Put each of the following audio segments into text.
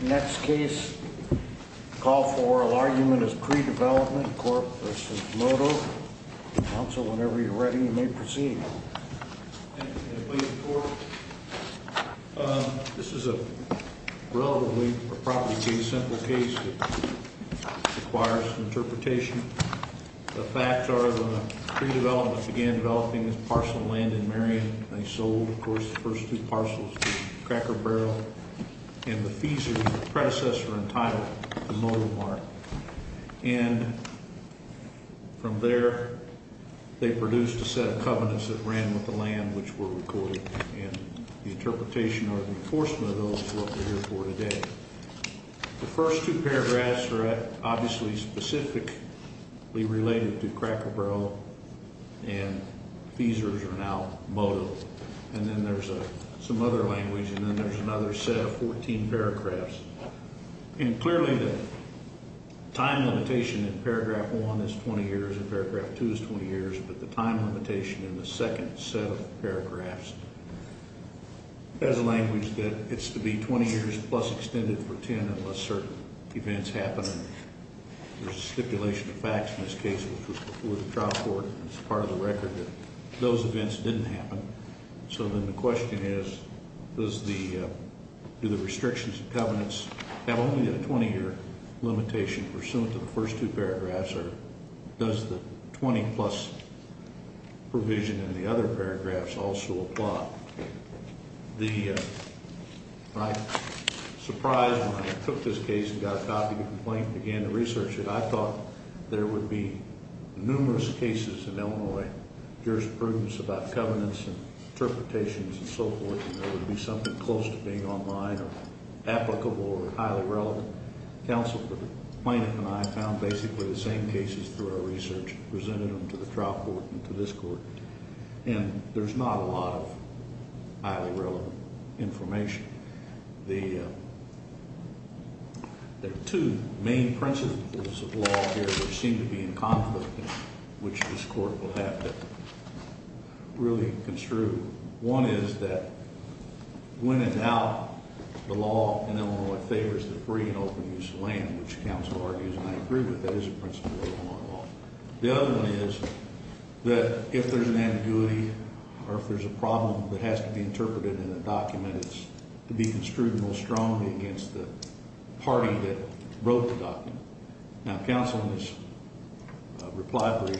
Next case, call for oral argument is Cree Development Corp. v. Moto. Counsel, whenever you're ready, you may proceed. Thank you. This is a relatively, or probably a pretty simple case that requires interpretation. The facts are that Cree Development began developing this parcel of land in Marion. They sold, of course, the first two parcels to Cracker Barrel. And the Feezers, the predecessor and title, to Moto Mart. And from there, they produced a set of covenants that ran with the land, which were recorded. And the interpretation or enforcement of those is what we're here for today. The first two paragraphs are obviously specifically related to Cracker Barrel. And Feezers are now Moto. And then there's some other language. And then there's another set of 14 paragraphs. And clearly the time limitation in paragraph 1 is 20 years and paragraph 2 is 20 years. But the time limitation in the second set of paragraphs has a language that it's to be 20 years plus extended for 10 unless certain events happen. And there's a stipulation of facts in this case, which was before the trial court. And it's part of the record that those events didn't happen. So then the question is, do the restrictions and covenants have only a 20-year limitation pursuant to the first two paragraphs? Or does the 20-plus provision in the other paragraphs also apply? I was surprised when I took this case and got a copy of the complaint and began to research it. I thought there would be numerous cases in Illinois, jurisprudence about covenants and interpretations and so forth, and there would be something close to being online or applicable or highly relevant. Counsel for the plaintiff and I found basically the same cases through our research and presented them to the trial court and to this court. And there's not a lot of highly relevant information. There are two main principles of law here that seem to be in conflict, which this court will have to really construe. One is that when in doubt, the law in Illinois favors the free and open use of land, which counsel argues, and I agree with that, is a principle of Illinois law. The other one is that if there's an ambiguity or if there's a problem that has to be interpreted in a document, it's to be construed most strongly against the party that wrote the document. Now, counsel in this reply brief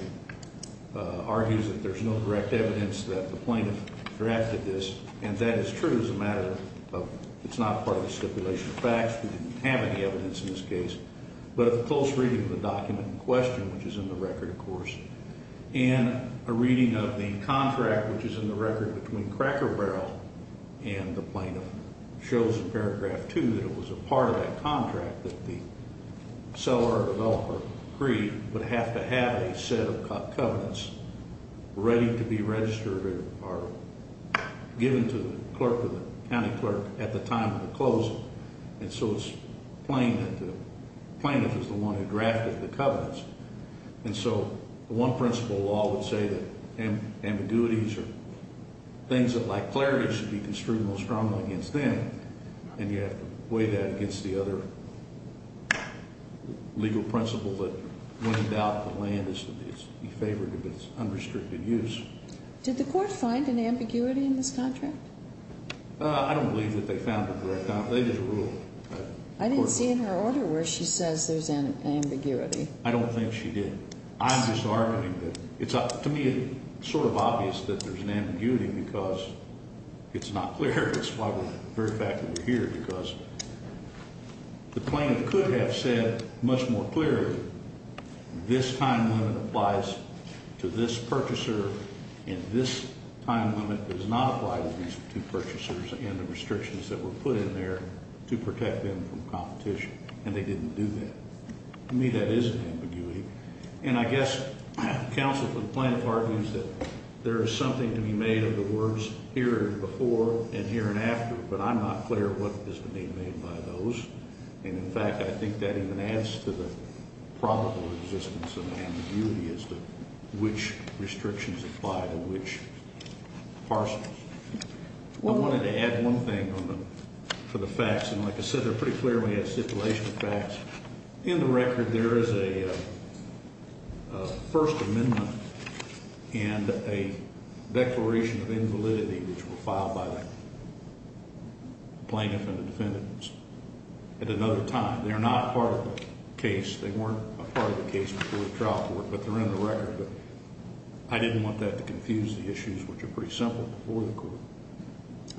argues that there's no direct evidence that the plaintiff drafted this, and that is true as a matter of it's not part of the stipulation of facts. We didn't have any evidence in this case. But a close reading of the document in question, which is in the record, of course, and a reading of the contract, which is in the record between Cracker Barrel and the plaintiff, shows in paragraph two that it was a part of that contract that the seller or developer agreed would have to have a set of covenants ready to be registered or given to the clerk or the county clerk at the time of the closing. And so it's plain that the plaintiff is the one who drafted the covenants. And so the one principle of law would say that ambiguities are things that, like clarity, should be construed most strongly against them, and you have to weigh that against the other legal principle that when in doubt, the land is to be favored if it's unrestricted use. Did the court find an ambiguity in this contract? I don't believe that they found a direct ambiguity. There's a rule. I didn't see in her order where she says there's an ambiguity. I don't think she did. I'm just arguing that it's, to me, sort of obvious that there's an ambiguity because it's not clear. That's why we're here, because the plaintiff could have said much more clearly, this time limit applies to this purchaser and this time limit does not apply to these two purchasers and the restrictions that were put in there to protect them from competition, and they didn't do that. To me, that is an ambiguity. And I guess counsel for the plaintiff argues that there is something to be made of the words here and before and here and after, but I'm not clear what is to be made by those. And, in fact, I think that even adds to the probable existence of ambiguity as to which restrictions apply to which parcels. I wanted to add one thing for the facts, and like I said, they're pretty clearly a stipulation of facts. In the record, there is a First Amendment and a declaration of invalidity, which were filed by the plaintiff and the defendant at another time. They're not part of the case. They weren't a part of the case before the trial court, but they're in the record. I didn't want that to confuse the issues, which are pretty simple, before the court,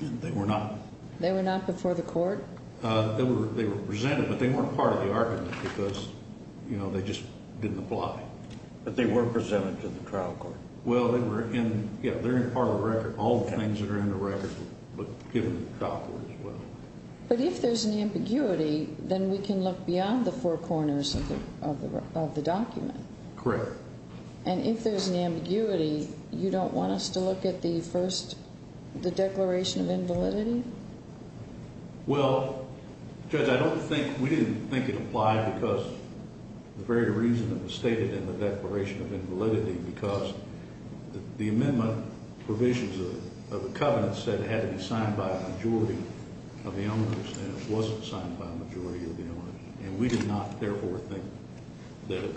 and they were not. They were not before the court? They were presented, but they weren't part of the argument because they just didn't apply. But they were presented to the trial court. Well, they were in part of the record. All the things that are in the record were given to the trial court as well. But if there's an ambiguity, then we can look beyond the four corners of the document. Correct. And if there's an ambiguity, you don't want us to look at the first, the declaration of invalidity? Well, Judge, I don't think, we didn't think it applied because the very reason it was stated in the declaration of invalidity, because the amendment provisions of the covenant said it had to be signed by a majority of the owners, and it wasn't signed by a majority of the owners. And we did not, therefore, think that it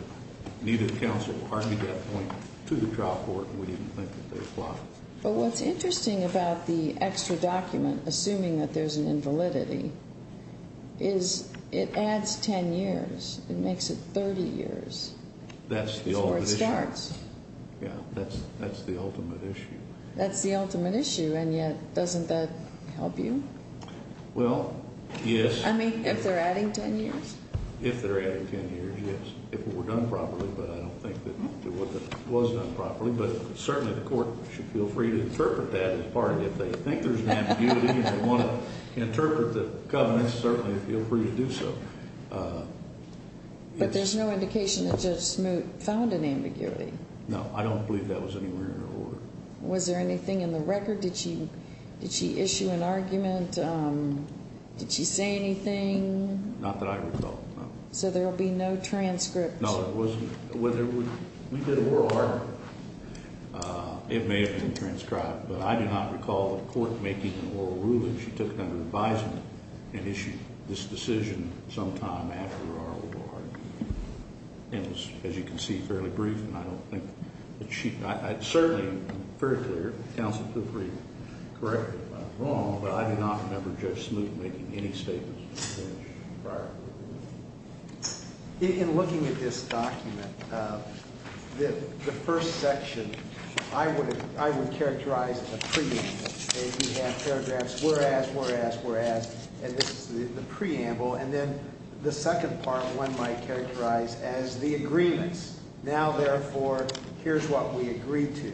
needed counsel to argue that point to the trial court. We didn't think that they applied. But what's interesting about the extra document, assuming that there's an invalidity, is it adds 10 years. It makes it 30 years before it starts. That's the ultimate issue. Yeah, that's the ultimate issue. That's the ultimate issue, and yet doesn't that help you? Well, yes. I mean, if they're adding 10 years? If they're adding 10 years, yes. If it were done properly, but I don't think that it was done properly. But certainly the court should feel free to interpret that as part of it. If they think there's an ambiguity and they want to interpret the covenant, certainly feel free to do so. But there's no indication that Judge Smoot found an ambiguity. No, I don't believe that was anywhere in her order. Was there anything in the record? Did she issue an argument? Did she say anything? Not that I recall, no. So there will be no transcript? No, there wasn't. Whether we did a oral argument, it may have been transcribed. But I do not recall the court making an oral ruling. She took it under advisement and issued this decision sometime after our oral argument. It was, as you can see, fairly brief, and I don't think that she – I certainly am very clear, counsel, feel free to correct me if I'm wrong, but I do not remember Judge Smoot making any statements prior to the hearing. In looking at this document, the first section, I would characterize it as a preamble. We have paragraphs, whereas, whereas, whereas, and this is the preamble. And then the second part, one might characterize as the agreements. Now, therefore, here's what we agree to.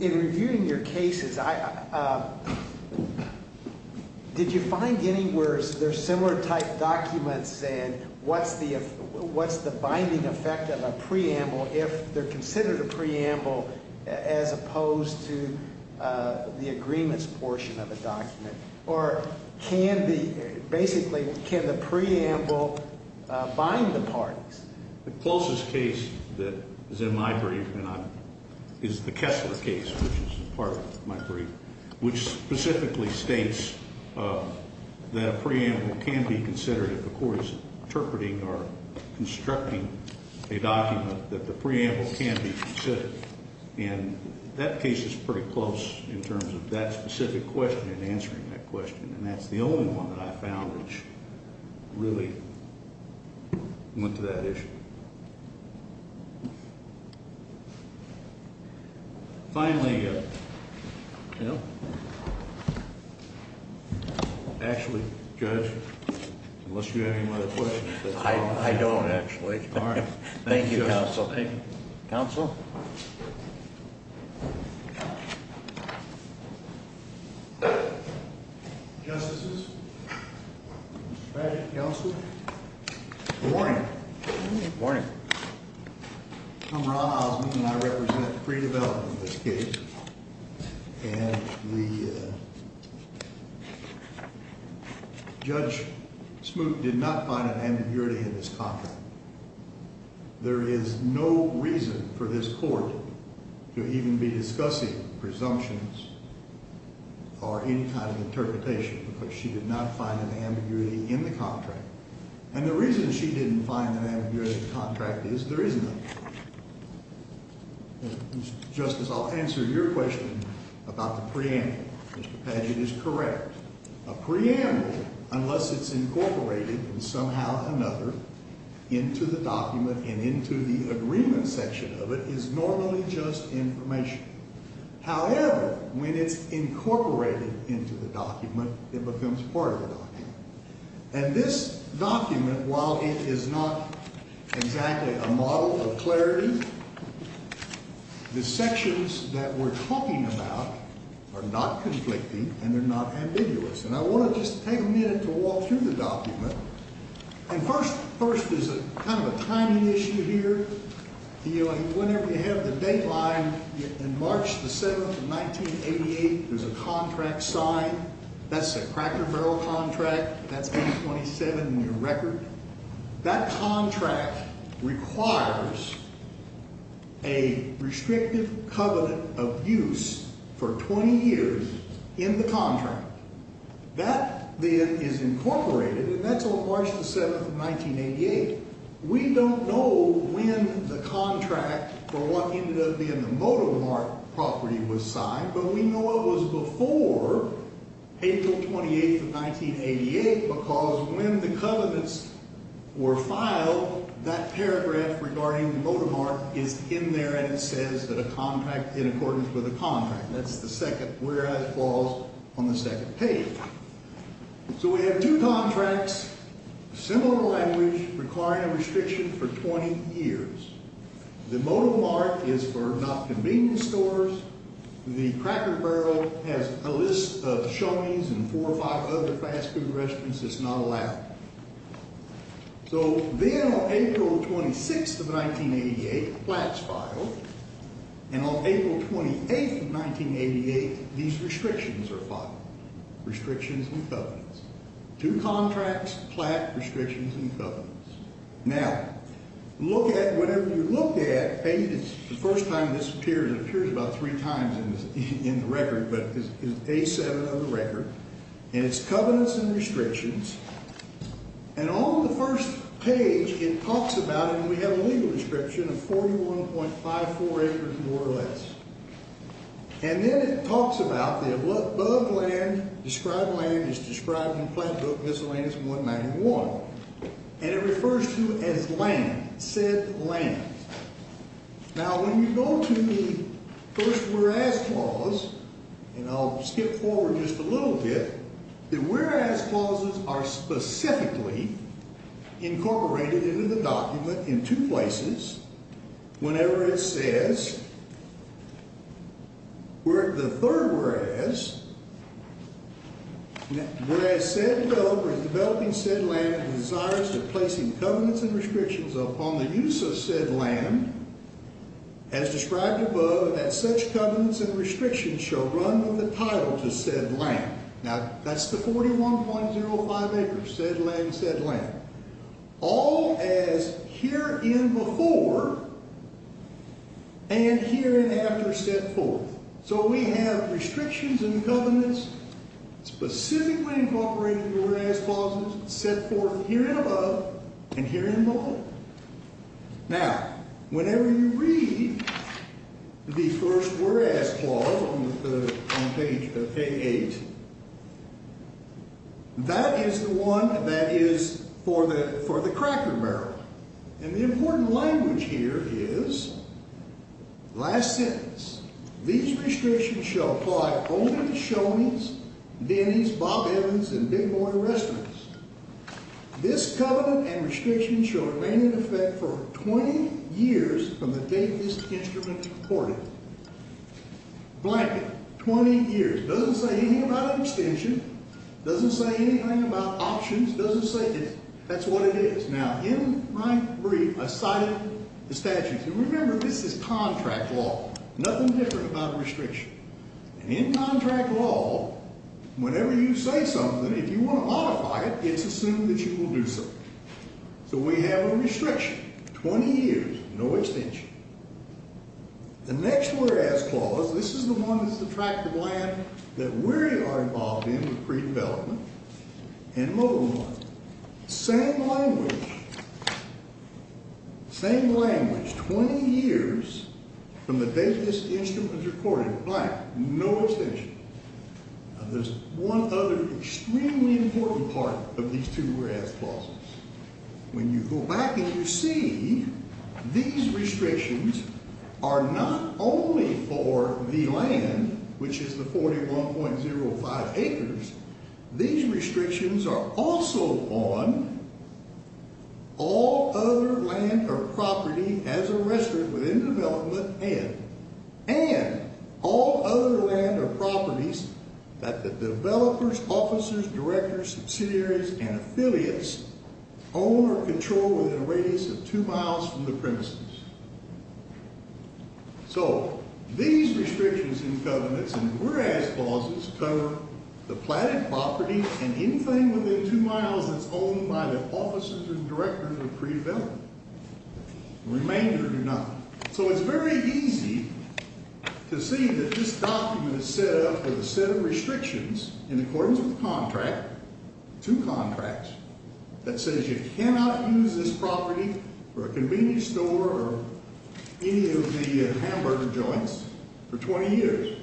In reviewing your cases, did you find anywhere there's similar type documents and what's the binding effect of a preamble if they're considered a preamble as opposed to the agreements portion of a document? Or can the – basically, can the preamble bind the parties? The closest case that is in my brief is the Kessler case, which is part of my brief, which specifically states that a preamble can be considered if the court is interpreting or constructing a document, that the preamble can be considered. And that case is pretty close in terms of that specific question and answering that question. And that's the only one that I found which really went to that issue. Finally, actually, Judge, unless you have any other questions. I don't, actually. Thank you, Counsel. Thank you, Counsel. Justices. Counsel. Good morning. Good morning. I'm Ron Osmond, and I represent pre-development in this case. And Judge Smoot did not find an ambiguity in this contract. There is no reason for this Court to even be discussing presumptions or any kind of interpretation because she did not find an ambiguity in the contract. And the reason she didn't find an ambiguity in the contract is there is none. Justice, I'll answer your question about the preamble. Mr. Padgett is correct. A preamble, unless it's incorporated in somehow another into the document and into the agreement section of it, is normally just information. However, when it's incorporated into the document, it becomes part of the document. And this document, while it is not exactly a model of clarity, the sections that we're talking about are not conflicting and they're not ambiguous. And I want to just take a minute to walk through the document. And first, there's kind of a timing issue here. Whenever you have the dateline, in March 7, 1988, there's a contract signed. That's a Cracker Barrel contract. That's 827 in your record. That contract requires a restrictive covenant of use for 20 years in the contract. That, then, is incorporated, and that's on March 7, 1988. We don't know when the contract for what ended up being the Modo Mart property was signed, but we know it was before April 28, 1988, because when the covenants were filed, that paragraph regarding the Modo Mart is in there, and it says that a contract in accordance with a contract. That's the second whereas clause on the second page. So we have two contracts, similar language, requiring a restriction for 20 years. The Modo Mart is for not convenience stores. The Cracker Barrel has a list of showings and four or five other fast food restaurants that's not allowed. So then on April 26, 1988, plats filed. And on April 28, 1988, these restrictions are filed, restrictions and covenants. Two contracts, plat, restrictions, and covenants. Now, look at whatever you look at. It's the first time this appears. It appears about three times in the record, but it's A7 on the record. And it's covenants and restrictions. And on the first page, it talks about it, and we have a legal description of 41.54 acres or less. And then it talks about the above land described land is described in Plant Book Miscellaneous 191. And it refers to as land, said land. Now, when you go to the first whereas clause, and I'll skip forward just a little bit, the whereas clauses are specifically incorporated into the document in two places. Whenever it says, the third whereas, whereas said developer is developing said land and desires to place covenants and restrictions upon the use of said land, as described above, that such covenants and restrictions shall run with the title to said land. Now, that's the 41.05 acres, said land, said land. All as herein before and hereinafter set forth. So we have restrictions and covenants specifically incorporated into the whereas clauses set forth herein above and herein below. Now, whenever you read the first whereas clause on page eight, that is the one that is for the cracker barrel. And the important language here is last sentence. These restrictions shall apply only to Shonies, Denny's, Bob Evans, and Big Boy restaurants. This covenant and restriction shall remain in effect for 20 years from the date this instrument is reported. Blanket, 20 years. It doesn't say anything about abstention. It doesn't say anything about options. It doesn't say anything. That's what it is. Now, in my brief, I cited the statutes. And remember, this is contract law, nothing different about a restriction. And in contract law, whenever you say something, if you want to modify it, it's assumed that you will do so. So we have a restriction, 20 years, no abstention. The next whereas clause, this is the one that's the tract of land that we are involved in with pre-development and mobile land. Same language. Same language, 20 years from the date this instrument is reported. Blanket, no abstention. Now, there's one other extremely important part of these two whereas clauses. When you go back and you see these restrictions are not only for the land, which is the 41.05 acres. These restrictions are also on all other land or property as a resident within development and all other land or properties that the developers, officers, directors, subsidiaries, and affiliates own or control within a radius of two miles from the premises. So these restrictions and covenants and whereas clauses cover the planted property and anything within two miles that's owned by the officers and directors of pre-development. The remainder do not. So it's very easy to see that this document is set up with a set of restrictions in accordance with the contract, two contracts, that says you cannot use this property for a convenience store or any of the hamburger joints for 20 years.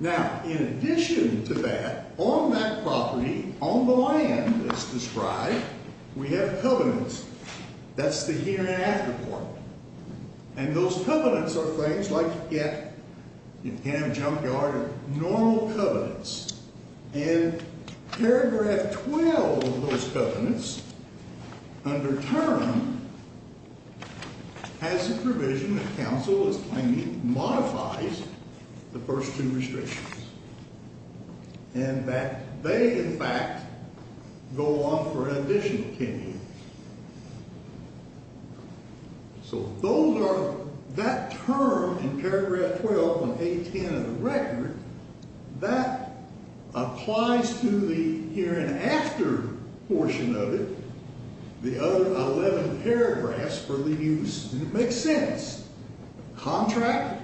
Now, in addition to that, on that property, on the land that's described, we have covenants. That's the here and after part. And those covenants are things like you can't have a junkyard or normal covenants. And paragraph 12 of those covenants, under term, has the provision that counsel is claiming modifies the first two restrictions and that they, in fact, go on for an additional 10 years. So those are, that term in paragraph 12 on page 10 of the record, that applies to the here and after portion of it, the other 11 paragraphs for the use. And it makes sense. Contract,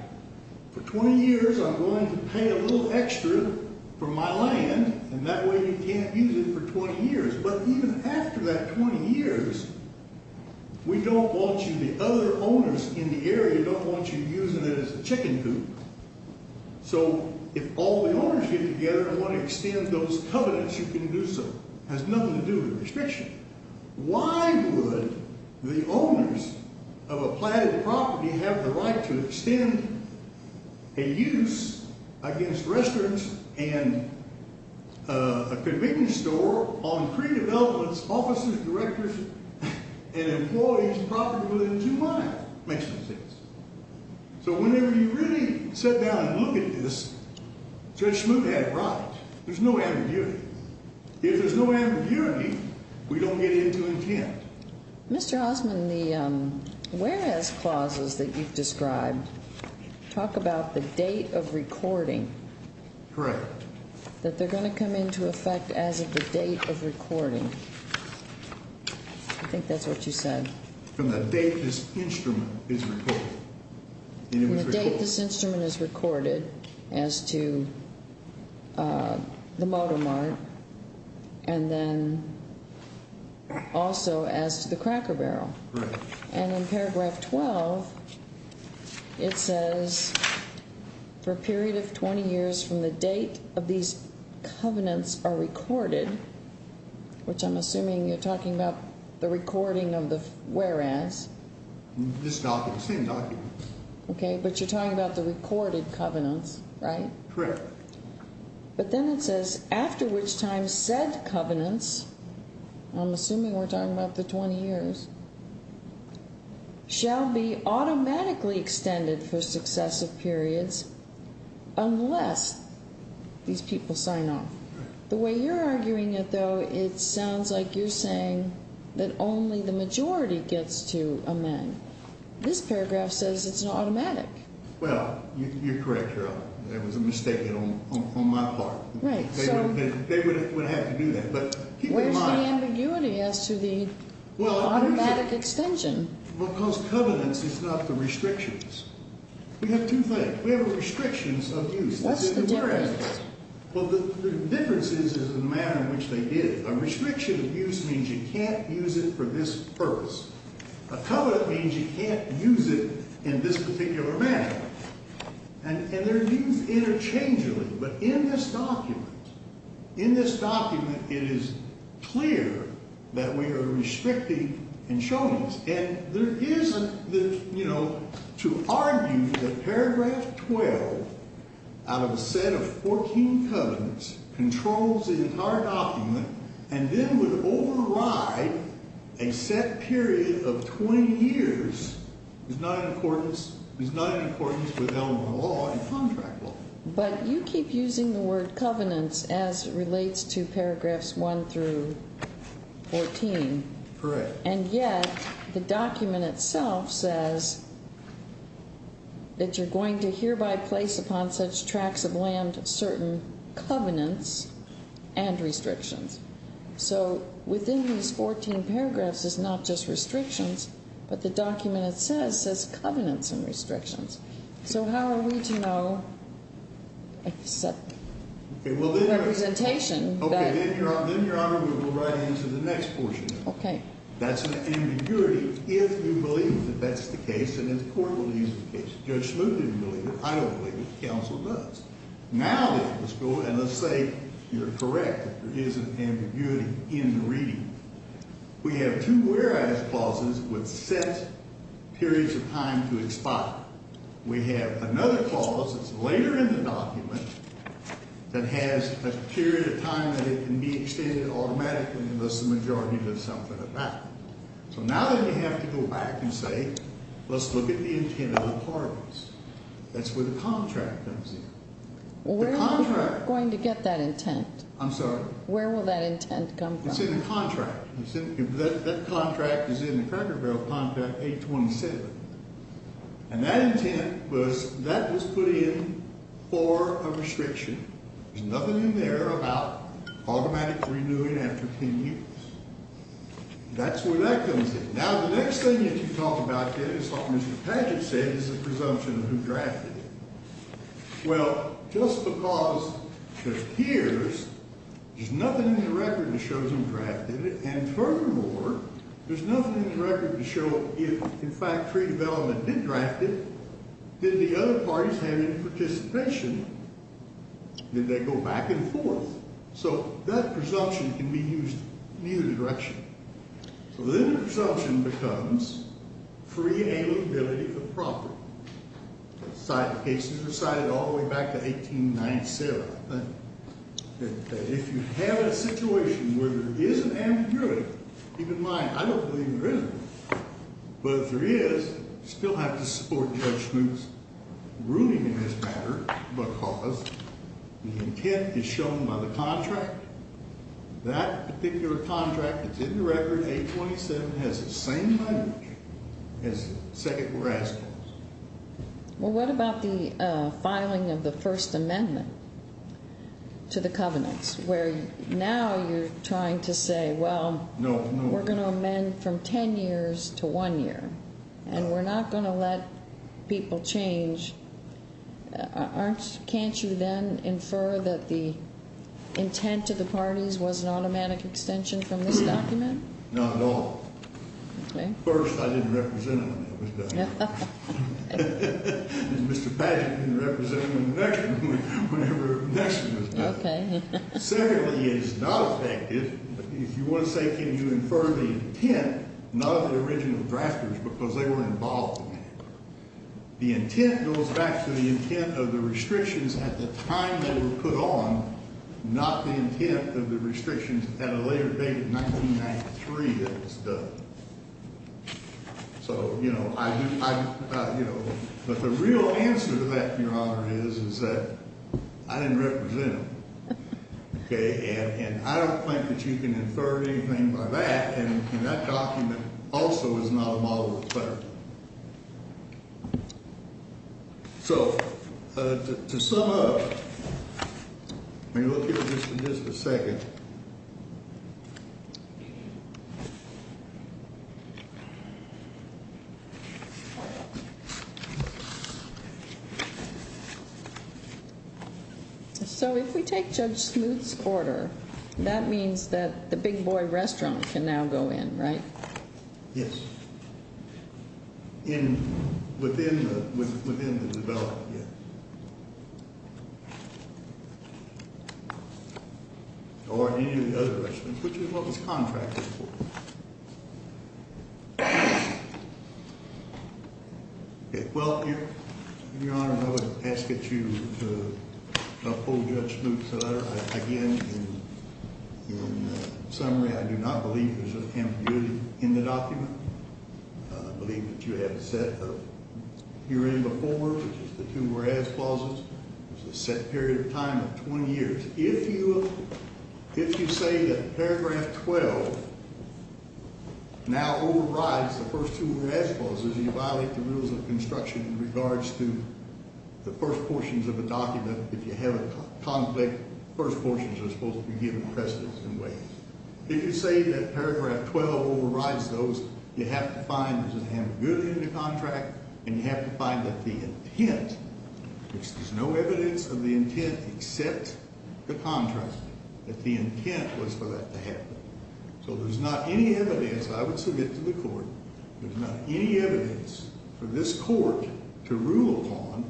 for 20 years I'm going to pay a little extra for my land, and that way you can't use it for 20 years. But even after that 20 years, we don't want you, the other owners in the area don't want you using it as a chicken coop. So if all the owners get together and want to extend those covenants, you can do so. It has nothing to do with the restriction. Why would the owners of a platted property have the right to extend a use against restaurants and a convenience store on pre-developments, offices, directors, and employees' property within two miles? Makes no sense. So whenever you really sit down and look at this, Judge Smoot had it right. There's no ambiguity. If there's no ambiguity, we don't get into intent. Mr. Osmond, the whereas clauses that you've described talk about the date of recording. Correct. That they're going to come into effect as of the date of recording. I think that's what you said. From the date this instrument is recorded. From the date this instrument is recorded as to the motor mart and then also as to the cracker barrel. Correct. And in paragraph 12, it says for a period of 20 years from the date of these covenants are recorded, which I'm assuming you're talking about the recording of the whereas. The same document. Okay, but you're talking about the recorded covenants, right? Correct. But then it says after which time said covenants, I'm assuming we're talking about the 20 years, shall be automatically extended for successive periods unless these people sign off. The way you're arguing it, though, it sounds like you're saying that only the majority gets to amend. This paragraph says it's an automatic. Well, you're correct, Your Honor. That was a mistake on my part. Right. They would have to do that. Where's the ambiguity as to the automatic extension? Well, because covenants is not the restrictions. We have two things. We have restrictions of use. What's the difference? Well, the difference is in the manner in which they did it. A restriction of use means you can't use it for this purpose. A covenant means you can't use it in this particular manner. And they're used interchangeably. But in this document, in this document, it is clear that we are restricting and showing this. And there isn't, you know, to argue that paragraph 12 out of a set of 14 covenants controls the entire document and then would override a set period of 20 years is not in accordance with element of law in contract law. But you keep using the word covenants as it relates to paragraphs 1 through 14. Correct. And yet the document itself says that you're going to hereby place upon such tracts of land certain covenants and restrictions. So within these 14 paragraphs is not just restrictions, but the document it says says covenants and restrictions. So how are we to know a set representation? Okay. Then, Your Honor, we will run into the next portion. Okay. That's an ambiguity if you believe that that's the case and if the court believes the case. Judge Smoot didn't believe it. I don't believe it. Counsel does. Now, let's go and let's say you're correct. There is an ambiguity in the reading. We have two whereas clauses with set periods of time to expire. We have another clause that's later in the document that has a period of time that it can be extended automatically unless the majority does something about it. So now then you have to go back and say let's look at the intent of the parties. That's where the contract comes in. Where are you going to get that intent? I'm sorry? Where will that intent come from? It's in the contract. That contract is in the Cracker Barrel contract 827. And that intent was that was put in for a restriction. There's nothing in there about automatic renewing after 10 years. That's where that comes in. Now, the next thing that you talk about is what Mr. Padgett said is a presumption of who drafted it. Well, just because there's peers, there's nothing in the record that shows them drafted it. And furthermore, there's nothing in the record to show if, in fact, free development did draft it, did the other parties have any participation? Did they go back and forth? So that presumption can be used in either direction. So then the presumption becomes free availability of property. Cases are cited all the way back to 1897. If you have a situation where there is an ambiguity, even mine, I don't believe there isn't. But if there is, you still have to support Judge Smoot's ruling in this matter because the intent is shown by the contract. That particular contract that's in the record, 827, has the same language as the second we're asking. Well, what about the filing of the First Amendment to the covenants, where now you're trying to say, well, we're going to amend from 10 years to 1 year, and we're not going to let people change. Can't you then infer that the intent to the parties was an automatic extension from this document? Not at all. Okay. First, I didn't represent them when that was done. Mr. Padgett didn't represent them when the next one was done. Okay. Secondly, it is not effective. If you want to say, can you infer the intent, not of the original drafters because they were involved in it. The intent goes back to the intent of the restrictions at the time they were put on, not the intent of the restrictions at a later date of 1993 that was done. So, you know, I do, you know, but the real answer to that, Your Honor, is that I didn't represent them. Okay. And I don't think that you can infer anything by that. And that document also is not a model of clarity. So, to sum up, let me look here just a second. So if we take Judge Smoot's order, that means that the Big Boy restaurant can now go in, right? Yes. Within the development, yes. Or any of the other restaurants, which is what this contract is for. Okay. Well, Your Honor, I would ask that you uphold Judge Smoot's order. Again, in summary, I do not believe there's an ambiguity in the document. I believe that you have a set of herein before, which is the two whereas clauses, which is a set period of time of 20 years. If you say that paragraph 12 now overrides the first two whereas clauses, you violate the rules of construction in regards to the first portions of the document. If you have a conflict, the first portions are supposed to be given precedent in ways. If you say that paragraph 12 overrides those, you have to find there's an ambiguity in the contract and you have to find that the intent, which there's no evidence of the intent except the contract, that the intent was for that to happen. So there's not any evidence, I would submit to the court, there's not any evidence for this court to rule upon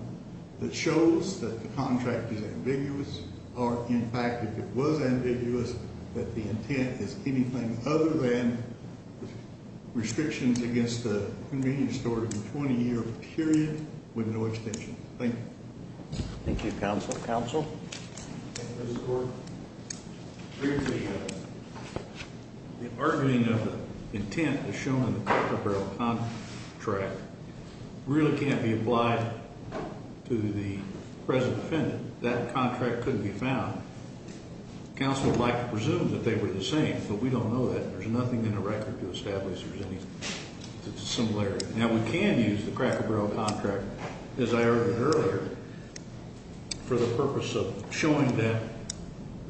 that shows that the contract is ambiguous or, in fact, if it was ambiguous, that the intent is anything other than restrictions against the convenience store in a 20-year period with no extension. Thank you. Thank you, Counsel. Counsel? Thank you, Mr. Court. The arguing of the intent is shown in the Cracker Barrel contract really can't be applied to the present defendant. That contract couldn't be found. Counsel would like to presume that they were the same, but we don't know that. There's nothing in the record to establish there's any similarity. Now, we can use the Cracker Barrel contract, as I argued earlier, for the purpose of showing that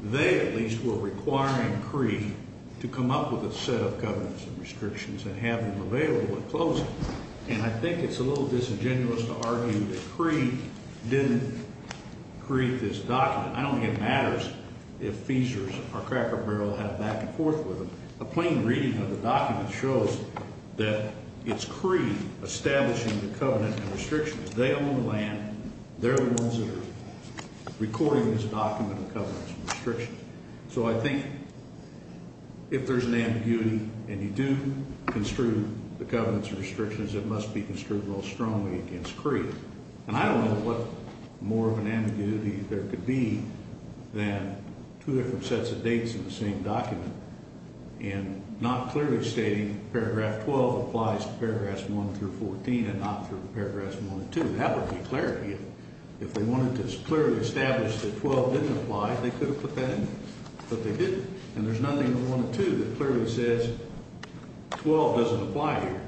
they at least were requiring Cree to come up with a set of covenants and restrictions and have them available at closing. And I think it's a little disingenuous to argue that Cree didn't create this document. I don't think it matters if Feasers or Cracker Barrel had a back-and-forth with them. A plain reading of the document shows that it's Cree establishing the covenant and restrictions. They own the land. They're the ones that are recording this document of covenants and restrictions. So I think if there's an ambiguity and you do construe the covenants and restrictions, it must be construed real strongly against Cree. And I don't know what more of an ambiguity there could be than two different sets of dates in the same document and not clearly stating paragraph 12 applies to paragraphs 1 through 14 and not through paragraphs 1 and 2. That would be clarity. If they wanted to clearly establish that 12 didn't apply, they could have put that in, but they didn't. And there's nothing in 1 and 2 that clearly says 12 doesn't apply here.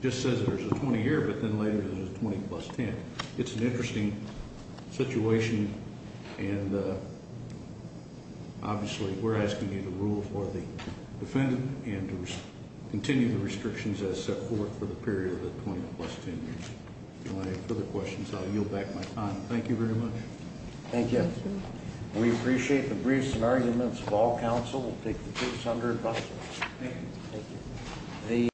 It just says there's a 20-year, but then later there's a 20 plus 10. It's an interesting situation, and obviously we're asking you to rule for the defendant and to continue the restrictions as set forth for the period of the 20 plus 10 years. If you want to ask further questions, I'll yield back my time. Thank you very much. Thank you. We appreciate the briefs and arguments of all counsel. We'll take the case under adjustment. Thank you. Thank you.